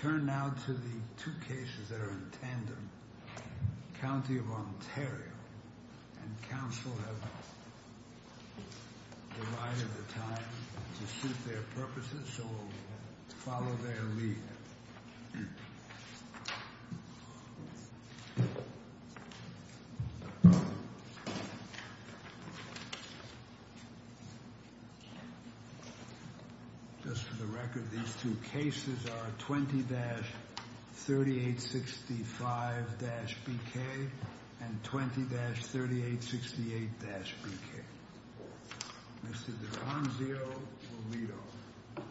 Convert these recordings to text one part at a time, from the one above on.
Turn now to the two cases that are in tandem, County of Ontario, and Council have divided the time to suit their purposes, so we'll follow their lead. Just for the record, these two cases are 20-3865-BK and 20-3868-BK. Mr. DeFranzio will lead off.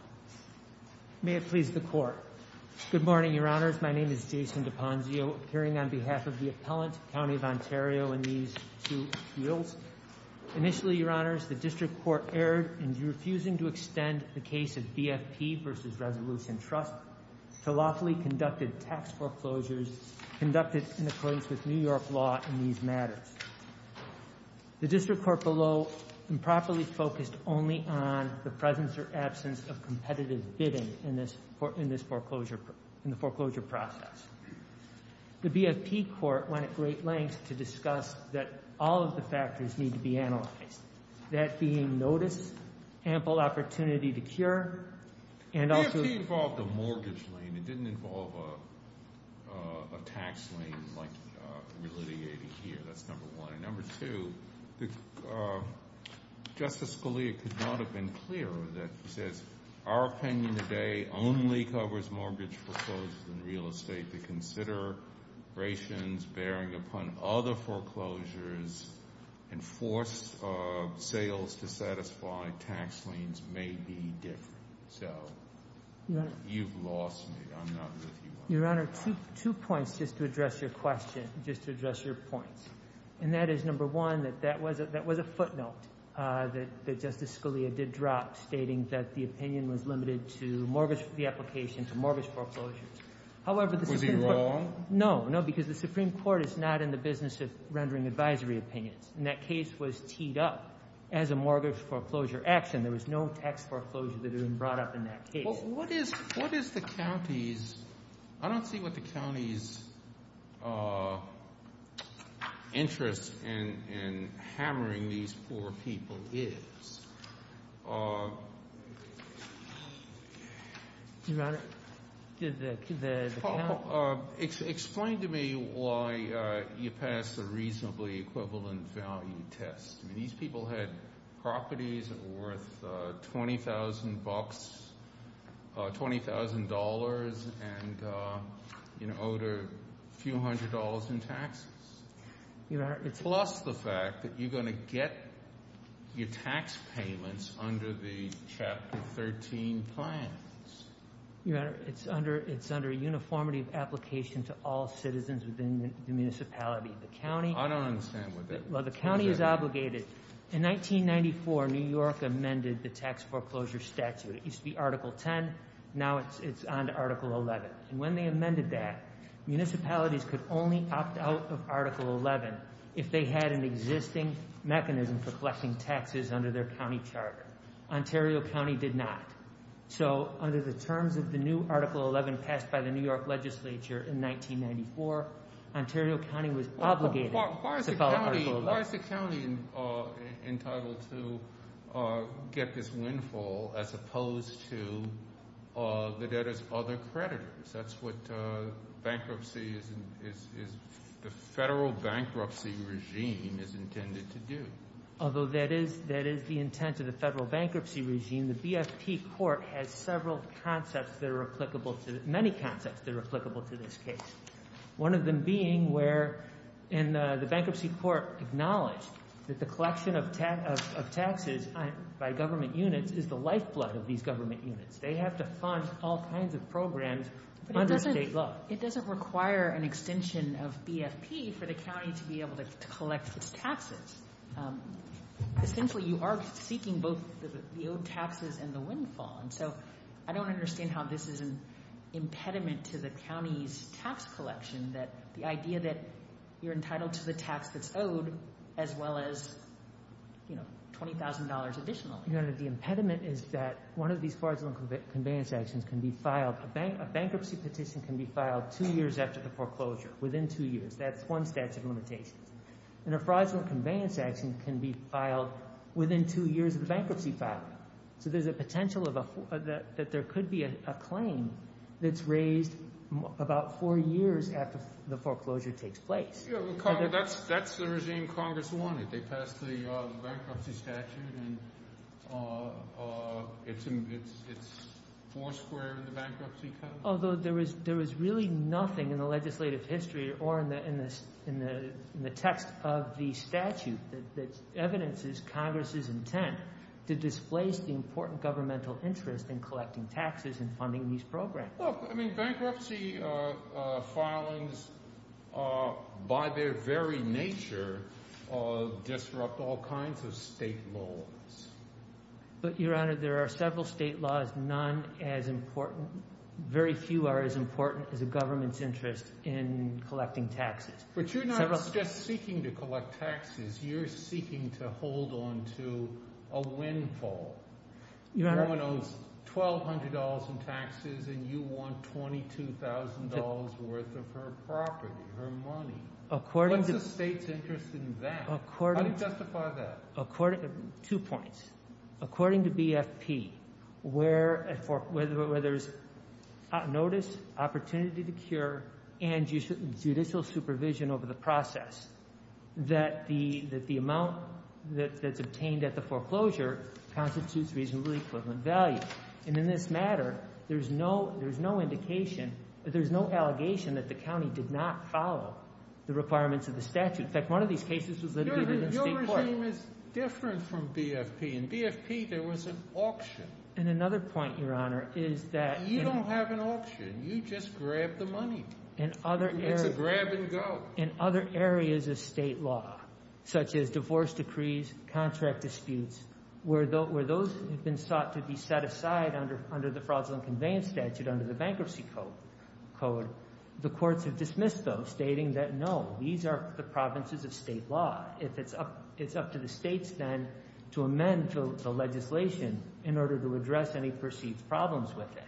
May it please the Court. Good morning, Your Honors. My name is Jason DeFranzio, appearing on behalf of the appellant, County of Ontario, in these two appeals. Initially, Your Honors, the District Court erred in refusing to extend the case of BFP v. Resolution Trust to lawfully conducted tax foreclosures conducted in accordance with New York law in these matters. The District Court below improperly focused only on the presence or absence of competitive bidding in the foreclosure process. The BFP Court went at great lengths to discuss that all of the factors need to be analyzed, that being notice, ample opportunity to cure, and also— BFP involved a mortgage lien. It didn't involve a tax lien like relitigated here. That's number one. And number two, Justice Scalia could not have been clearer that he says our opinion today only covers mortgage foreclosures and real estate. The considerations bearing upon other foreclosures and force of sales to satisfy tax liens may be different. So you've lost me. I'm not with you on that. Your Honor, two points just to address your question, just to address your points. And that is, number one, that that was a footnote that Justice Scalia did drop, stating that the opinion was limited to mortgage—the application to mortgage foreclosures. However, the Supreme Court— Was he wrong? No, no, because the Supreme Court is not in the business of rendering advisory opinions. And that case was teed up as a mortgage foreclosure action. There was no tax foreclosure that had been brought up in that case. Well, what is—what is the county's—I don't see what the county's interest in hammering these poor people is. Your Honor, did the county— Explain to me why you passed the reasonably equivalent value test. I mean, these people had properties worth $20,000 and owed a few hundred dollars in taxes. Your Honor, it's— Plus the fact that you're going to get your tax payments under the Chapter 13 plans. Your Honor, it's under—it's under uniformity of application to all citizens within the municipality. The county— I don't understand what that— Well, the county is obligated. In 1994, New York amended the tax foreclosure statute. It used to be Article 10. Now it's on to Article 11. And when they amended that, municipalities could only opt out of Article 11 if they had an existing mechanism for collecting taxes under their county charter. Ontario County did not. So under the terms of the new Article 11 passed by the New York Legislature in 1994, Ontario County was obligated to follow Article 11. Why is the county—why is the county entitled to get this windfall as opposed to the debtor's other creditors? That's what bankruptcy is—the federal bankruptcy regime is intended to do. Although that is—that is the intent of the federal bankruptcy regime, the BFP court has several concepts that are applicable to—many concepts that are applicable to this case. One of them being where—and the bankruptcy court acknowledged that the collection of taxes by government units is the lifeblood of these government units. They have to fund all kinds of programs under state law. Well, it doesn't require an extension of BFP for the county to be able to collect its taxes. Essentially, you are seeking both the owed taxes and the windfall. And so I don't understand how this is an impediment to the county's tax collection that the idea that you're entitled to the tax that's owed as well as, you know, $20,000 additionally. The impediment is that one of these fraudulent conveyance actions can be filed—a bankruptcy petition can be filed two years after the foreclosure, within two years. That's one statute of limitations. And a fraudulent conveyance action can be filed within two years of the bankruptcy filing. So there's a potential of a—that there could be a claim that's raised about four years after the foreclosure takes place. That's the regime Congress wanted. They passed the bankruptcy statute, and it's four square in the bankruptcy code. Although there is really nothing in the legislative history or in the text of the statute that evidences Congress's intent to displace the important governmental interest in collecting taxes and funding these programs. I mean, bankruptcy filings, by their very nature, disrupt all kinds of state laws. But, Your Honor, there are several state laws, none as important—very few are as important as the government's interest in collecting taxes. But you're not just seeking to collect taxes. You're seeking to hold on to a windfall. No one owns $1,200 in taxes, and you want $22,000 worth of her property, her money. What's the state's interest in that? How do you justify that? Two points. According to BFP, where there's notice, opportunity to cure, and judicial supervision over the process, that the amount that's obtained at the foreclosure constitutes reasonably equivalent value. And in this matter, there's no indication—there's no allegation that the county did not follow the requirements of the statute. In fact, one of these cases was litigated in state court. But the claim is different from BFP. In BFP, there was an auction. And another point, Your Honor, is that— You don't have an auction. You just grab the money. It's a grab-and-go. In other areas of state law, such as divorce decrees, contract disputes, where those have been sought to be set aside under the Fraudulent Conveyance Statute, under the Bankruptcy Code, the courts have dismissed those, stating that, no, these are the provinces of state law. It's up to the states, then, to amend the legislation in order to address any perceived problems with it.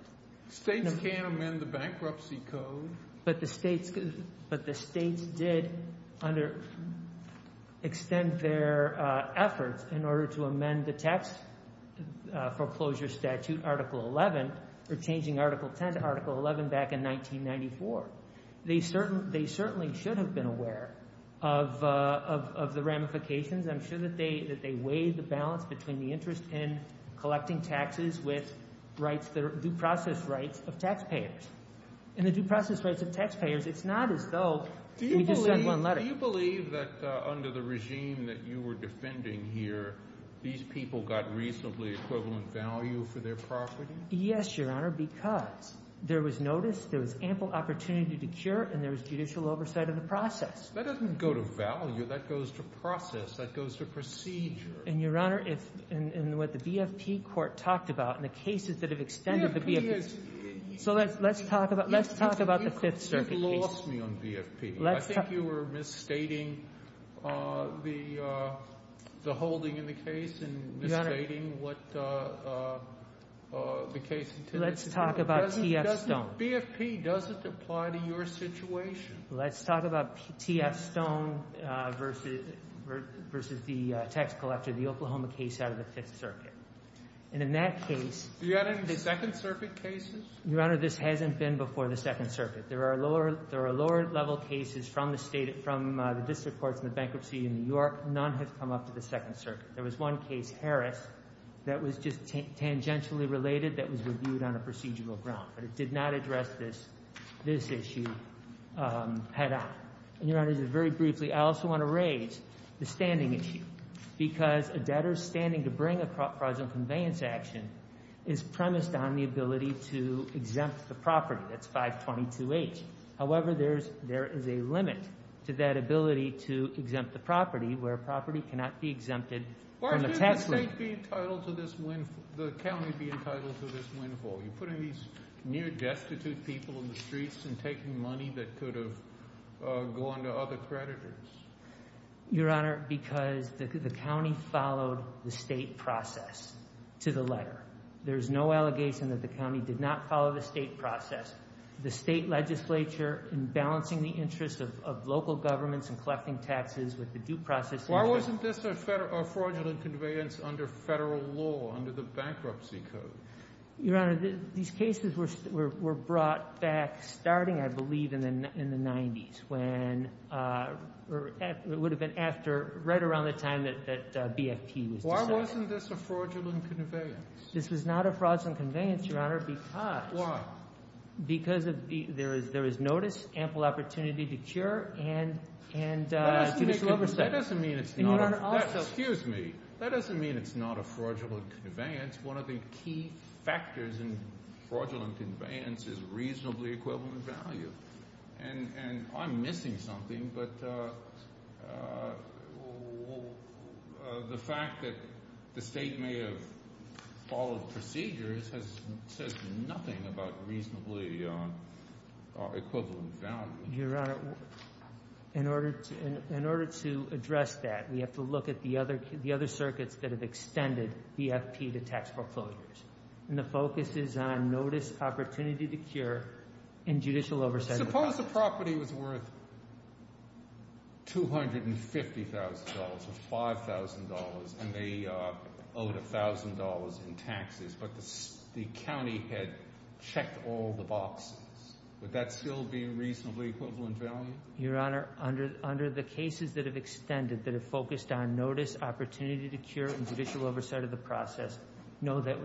States can't amend the Bankruptcy Code. But the states did extend their efforts in order to amend the Tax Foreclosure Statute, Article 11, or changing Article 10 to Article 11 back in 1994. They certainly should have been aware of the ramifications. I'm sure that they weighed the balance between the interest in collecting taxes with rights—the due process rights of taxpayers. And the due process rights of taxpayers, it's not as though we just send one letter. Do you believe that under the regime that you were defending here, these people got reasonably equivalent value for their property? Yes, Your Honor, because there was notice, there was ample opportunity to cure, and there was judicial oversight of the process. That doesn't go to value. That goes to process. That goes to procedure. And, Your Honor, if—and what the BFP Court talked about in the cases that have extended the BFP— So let's talk about the Fifth Circuit case. You've lost me on BFP. Let's talk— I think you were misstating the holding in the case and misstating what the case— Let's talk about T.F. Stone. BFP doesn't apply to your situation. Let's talk about T.F. Stone versus the tax collector, the Oklahoma case out of the Fifth Circuit. And in that case— Do you have any Second Circuit cases? Your Honor, this hasn't been before the Second Circuit. There are lower—there are lower-level cases from the State—from the district courts in the bankruptcy in New York. None have come up to the Second Circuit. There was one case, Harris, that was just tangentially related that was reviewed on a procedural ground, but it did not address this issue head-on. And, Your Honor, just very briefly, I also want to raise the standing issue, because a debtor standing to bring a fraudulent conveyance action is premised on the ability to exempt the property. That's 522H. However, there is a limit to that ability to exempt the property where a property cannot be exempted from the tax rate. Why shouldn't the State be entitled to this—the county be entitled to this windfall? You're putting these near-destitute people in the streets and taking money that could have gone to other creditors. Your Honor, because the county followed the State process to the letter. There's no allegation that the county did not follow the State process. The State legislature, in balancing the interests of local governments and collecting taxes with the due process— Why wasn't this a fraudulent conveyance under federal law, under the bankruptcy code? Your Honor, these cases were brought back starting, I believe, in the 90s, when—it would have been right around the time that BFP was decided. Why wasn't this a fraudulent conveyance? This was not a fraudulent conveyance, Your Honor, because— Why? Because there is notice, ample opportunity to cure, and judicial oversight. And, Your Honor, also— Factors in fraudulent conveyance is reasonably equivalent value. And I'm missing something, but the fact that the State may have followed procedures says nothing about reasonably equivalent value. Your Honor, in order to address that, we have to look at the other circuits that have extended BFP to tax proclosures. And the focus is on notice, opportunity to cure, and judicial oversight. Suppose the property was worth $250,000 or $5,000 and they owed $1,000 in taxes, but the county had checked all the boxes. Would that still be reasonably equivalent value? Your Honor, under the cases that have extended, that have focused on notice, opportunity to cure, and judicial oversight of the process, no, that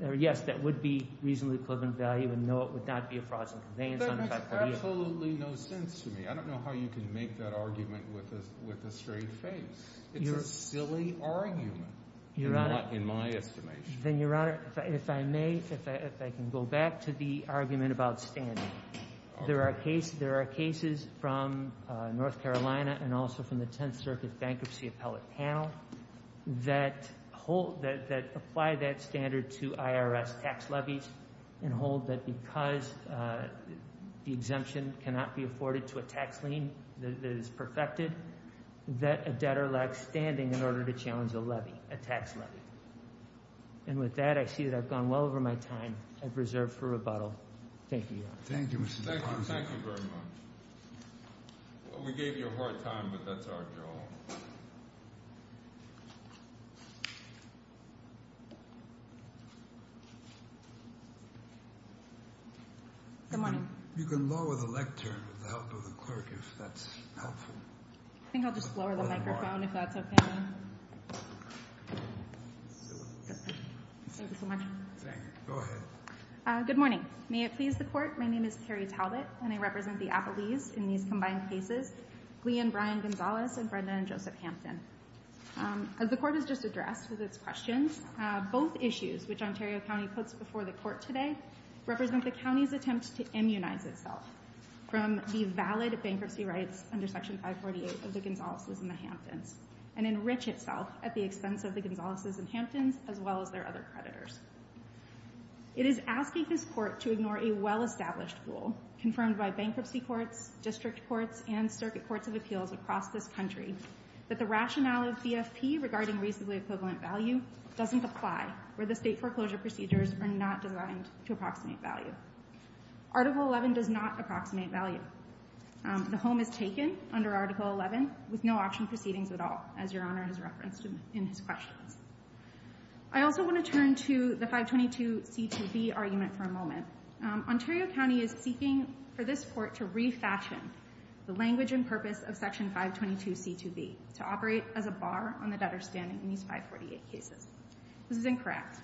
would—yes, that would be reasonably equivalent value, and no, it would not be a fraudulent conveyance. That makes absolutely no sense to me. I don't know how you can make that argument with a straight face. It's a silly argument, in my estimation. Then, Your Honor, if I may, if I can go back to the argument about standing. There are cases from North Carolina and also from the Tenth Circuit Bankruptcy Appellate Panel that hold— that apply that standard to IRS tax levies and hold that because the exemption cannot be afforded to a tax lien that is perfected, that a debtor lacks standing in order to challenge a levy, a tax levy. And with that, I see that I've gone well over my time. I've reserved for rebuttal. Thank you, Your Honor. Thank you, Mr. DeParle. Thank you. Thank you very much. We gave you a hard time, but that's our job. Good morning. You can lower the lectern with the help of the clerk, if that's helpful. I think I'll just lower the microphone, if that's okay with you. Thank you so much. Thank you. Go ahead. Good morning. May it please the Court, my name is Carrie Talbot, and I represent the Appellees in these combined cases, Glee and Brian Gonzalez and Brenda and Joseph Hampton. As the Court has just addressed with its questions, both issues, which Ontario County puts before the Court today, represent the county's attempt to immunize itself from the valid bankruptcy rights under Section 548 of the Gonzalez's and the Hamptons and enrich itself at the expense of the Gonzalez's and Hampton's as well as their other creditors. It is asking this Court to ignore a well-established rule confirmed by bankruptcy courts, district courts, and circuit courts of appeals across this country that the rationale of BFP regarding reasonably equivalent value doesn't apply where the state foreclosure procedures are not designed to approximate value. Article 11 does not approximate value. The home is taken under Article 11 with no auction proceedings at all, as Your Honor has referenced in his questions. I also want to turn to the 522c2b argument for a moment. Ontario County is seeking for this Court to refashion the language and purpose of Section 522c2b to operate as a bar on the debtor standing in these 548 cases. This is incorrect.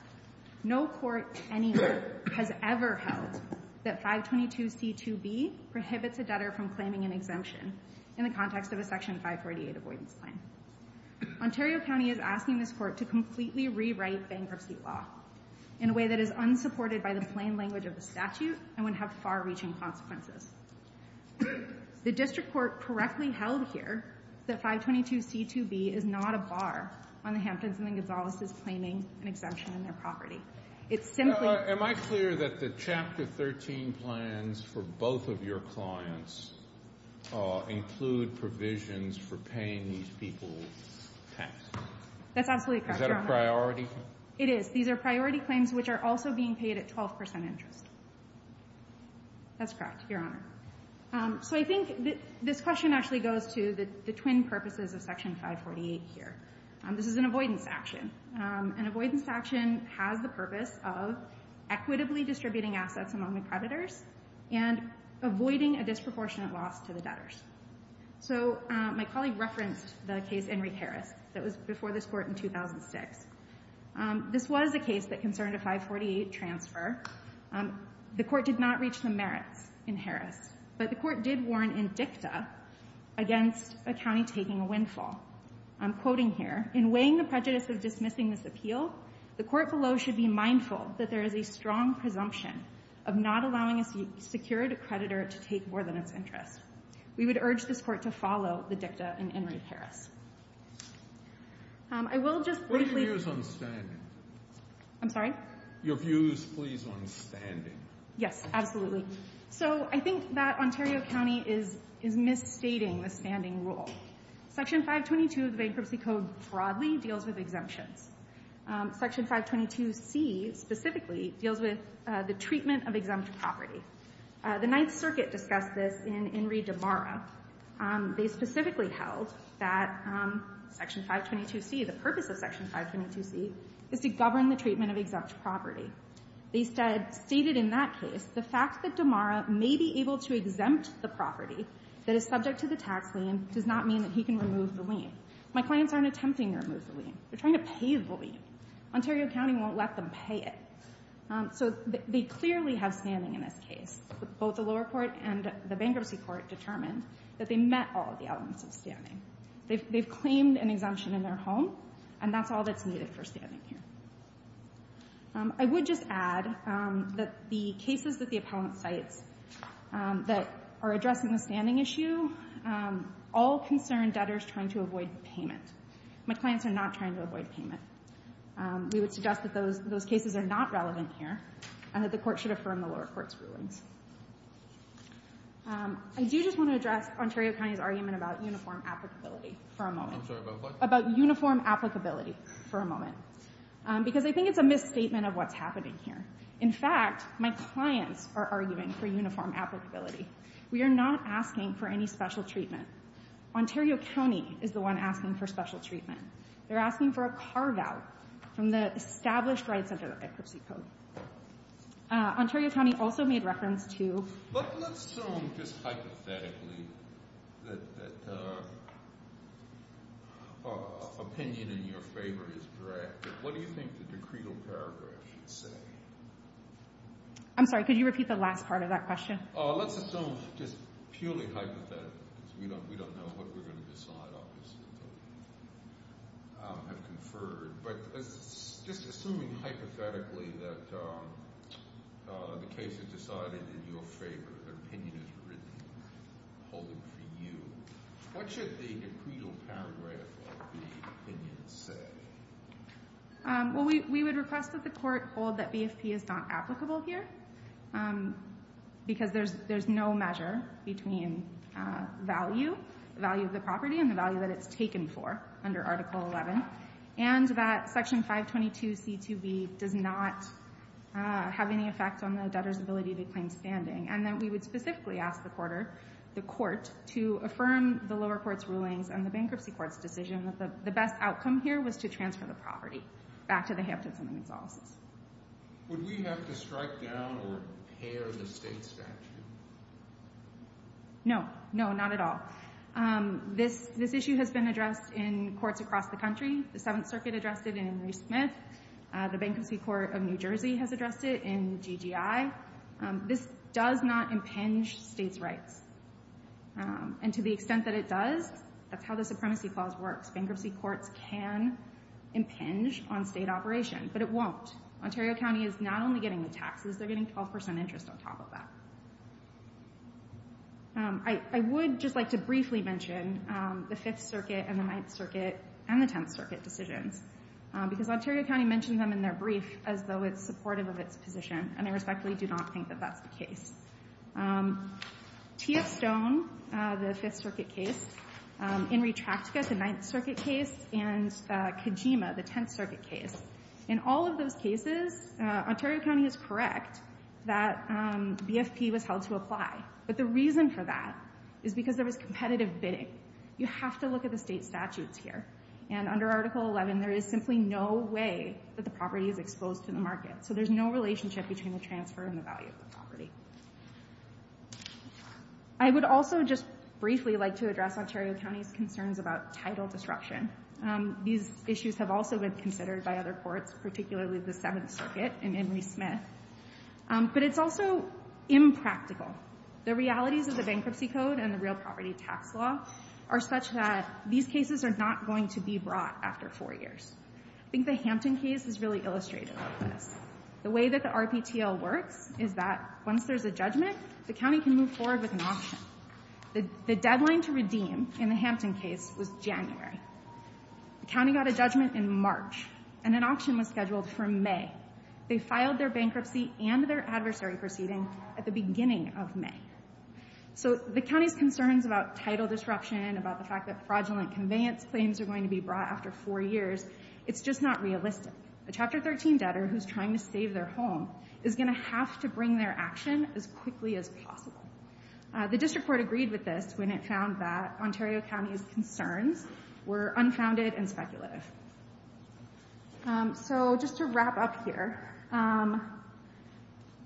No court anywhere has ever held that 522c2b prohibits a debtor from claiming an exemption in the context of a Section 548 avoidance plan. Ontario County is asking this Court to completely rewrite bankruptcy law in a way that is unsupported by the plain language of the statute and would have far-reaching consequences. The district court correctly held here that 522c2b is not a bar on the Hamptons and the Gonzalez's claiming an exemption in their property. Am I clear that the Chapter 13 plans for both of your clients include provisions for paying these people tax? That's absolutely correct, Your Honor. Is that a priority? It is. These are priority claims which are also being paid at 12% interest. That's correct, Your Honor. So I think this question actually goes to the twin purposes of Section 548 here. This is an avoidance action. An avoidance action has the purpose of equitably distributing assets among the creditors and avoiding a disproportionate loss to the debtors. So my colleague referenced the case Enrique Harris that was before this Court in 2006. This was a case that concerned a 548 transfer. The Court did not reach the merits in Harris, but the Court did warn Indicta against a county taking a windfall. I'm quoting here, In weighing the prejudice of dismissing this appeal, the Court below should be mindful that there is a strong presumption of not allowing a secured creditor to take more than its interest. We would urge this Court to follow the Dicta in Enrique Harris. What are your views on standing? I'm sorry? Your views, please, on standing. Yes, absolutely. So I think that Ontario County is misstating the standing rule. Section 522 of the Bankruptcy Code broadly deals with exemptions. Section 522C specifically deals with the treatment of exempt property. The Ninth Circuit discussed this in Enrique de Mara. They specifically held that Section 522C, the purpose of Section 522C, is to govern the treatment of exempt property. They stated in that case the fact that de Mara may be able to exempt the property that is subject to the tax lien does not mean that he can remove the lien. My clients aren't attempting to remove the lien. They're trying to pay the lien. Ontario County won't let them pay it. So they clearly have standing in this case. Both the lower court and the bankruptcy court determined that they met all of the elements of standing. They've claimed an exemption in their home, and that's all that's needed for standing here. I would just add that the cases that the appellant cites that are addressing the standing issue all concern debtors trying to avoid payment. My clients are not trying to avoid payment. We would suggest that those cases are not relevant here and that the court should affirm the lower court's rulings. I do just want to address Ontario County's argument about uniform applicability for a moment. I'm sorry, about what? About uniform applicability for a moment. Because I think it's a misstatement of what's happening here. In fact, my clients are arguing for uniform applicability. We are not asking for any special treatment. Ontario County is the one asking for special treatment. They're asking for a carve-out from the established rights under the bankruptcy code. Ontario County also made reference to... But let's assume, just hypothetically, that opinion in your favor is correct. What do you think the decretal paragraph should say? I'm sorry, could you repeat the last part of that question? Let's assume, just purely hypothetically, because we don't know what we're going to decide, obviously, until we have conferred. But just assuming hypothetically that the case is decided in your favor, the opinion is written, holding for you, what should the decretal paragraph of the opinion say? Well, we would request that the court hold that BFP is not applicable here, because there's no measure between value, the value of the property, and the value that it's taken for, under Article 11. And that Section 522c2b does not have any effect on the debtor's ability to claim standing. And that we would specifically ask the court to affirm the lower court's rulings and the bankruptcy court's decision that the best outcome here was to transfer the property back to the Hamptons and McDonalds. Would we have to strike down or repair the state statute? No. No, not at all. This issue has been addressed in courts across the country. The Seventh Circuit addressed it in Henry Smith. The Bankruptcy Court of New Jersey has addressed it in GGI. This does not impinge states' rights. And to the extent that it does, that's how the Supremacy Clause works. Bankruptcy courts can impinge on state operation, but it won't. Ontario County is not only getting the taxes, they're getting 12% interest on top of that. I would just like to briefly mention the Fifth Circuit and the Ninth Circuit and the Tenth Circuit decisions. Because Ontario County mentioned them in their brief as though it's supportive of its position, and I respectfully do not think that that's the case. Tia Stone, the Fifth Circuit case, Inri Traktka, the Ninth Circuit case, and Kajima, the Tenth Circuit case. In all of those cases, Ontario County is correct that BFP was held to apply. But the reason for that is because there was competitive bidding. You have to look at the state statutes here. And under Article 11, there is simply no way that the property is exposed to the market. So there's no relationship between the transfer and the value of the property. I would also just briefly like to address Ontario County's concerns about title disruption. These issues have also been considered by other courts, particularly the Seventh Circuit and Inri Smith. But it's also impractical. The realities of the Bankruptcy Code and the Real Property Tax Law are such that these cases are not going to be brought after four years. I think the Hampton case is really illustrative of this. The way that the RPTL works is that once there's a judgment, the county can move forward with an auction. The deadline to redeem in the Hampton case was January. The county got a judgment in March, and an auction was scheduled for May. They filed their bankruptcy and their adversary proceeding at the beginning of May. So the county's concerns about title disruption, about the fact that fraudulent conveyance claims are going to be brought after four years, it's just not realistic. A Chapter 13 debtor who's trying to save their home is going to have to bring their action as quickly as possible. The District Court agreed with this when it found that Ontario County's concerns were unfounded and speculative. So just to wrap up here,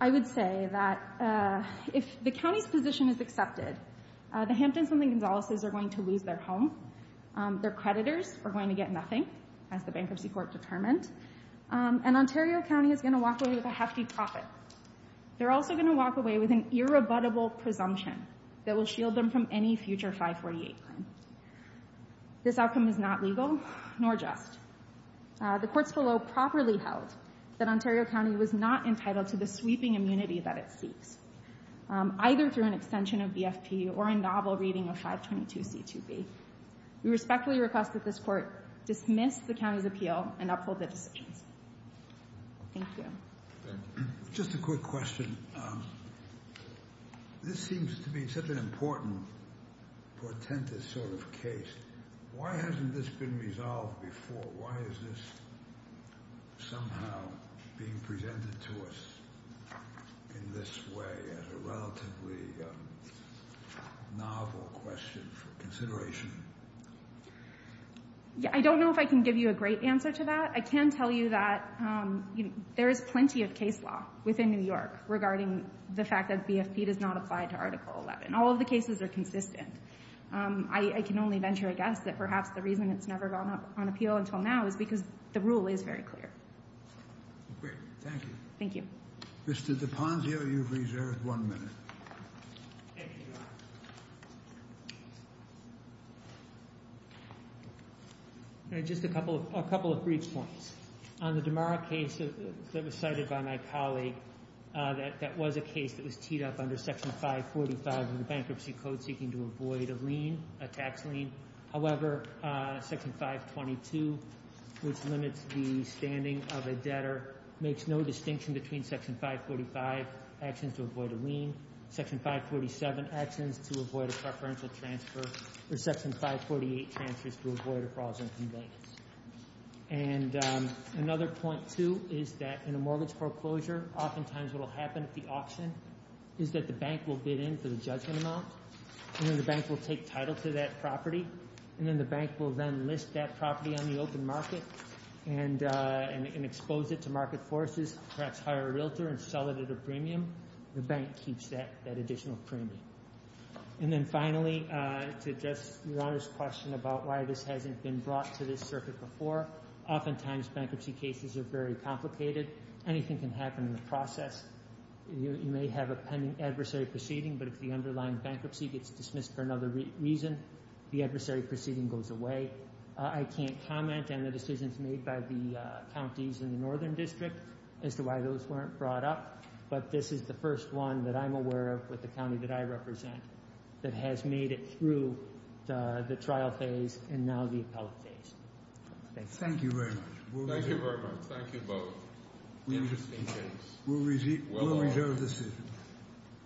I would say that if the county's position is accepted, the Hamptons and the Gonzaleses are going to lose their home, their creditors are going to get nothing, as the Bankruptcy Court determined, and Ontario County is going to walk away with a hefty profit. They're also going to walk away with an irrebuttable presumption that will shield them from any future 548 claim. This outcome is not legal, nor just. The courts below properly held that Ontario County was not entitled to the sweeping immunity that it seeks, either through an extension of BFP or a novel reading of 522c2b. We respectfully request that this court dismiss the county's appeal and uphold the decisions. Thank you. Just a quick question. This seems to be such an important, portentous sort of case. Why hasn't this been resolved before? Why is this somehow being presented to us in this way as a relatively novel question for consideration? I don't know if I can give you a great answer to that. I can tell you that there is plenty of case law within New York regarding the fact that BFP does not apply to Article 11. All of the cases are consistent. I can only venture a guess that perhaps the reason it's never gone up on appeal until now is because the rule is very clear. Great. Thank you. Thank you. Mr. DiPazio, you've reserved one minute. Thank you, Your Honor. Just a couple of brief points. On the Damara case that was cited by my colleague, that was a case that was teed up under Section 545 of the Bankruptcy Code seeking to avoid a tax lien. However, Section 522, which limits the standing of a debtor, makes no distinction between Section 545 actions to avoid a lien, Section 547 actions to avoid a preferential transfer, or Section 548 transfers to avoid a fraudulent conveyance. And another point, too, is that in a mortgage foreclosure, oftentimes what will happen at the auction is that the bank will bid in for the judgment amount. And then the bank will take title to that property. And then the bank will then list that property on the open market and expose it to market forces, perhaps hire a realtor and sell it at a premium. The bank keeps that additional premium. And then finally, to address Your Honor's question about why this hasn't been brought to this circuit before, oftentimes bankruptcy cases are very complicated. Anything can happen in the process. You may have a pending adversary proceeding. But if the underlying bankruptcy gets dismissed for another reason, the adversary proceeding goes away. I can't comment on the decisions made by the counties in the Northern District as to why those weren't brought up. But this is the first one that I'm aware of with the county that I represent that has made it through the trial phase and now the appellate phase. Thank you. Thank you very much. Thank you both. We'll reserve the seat.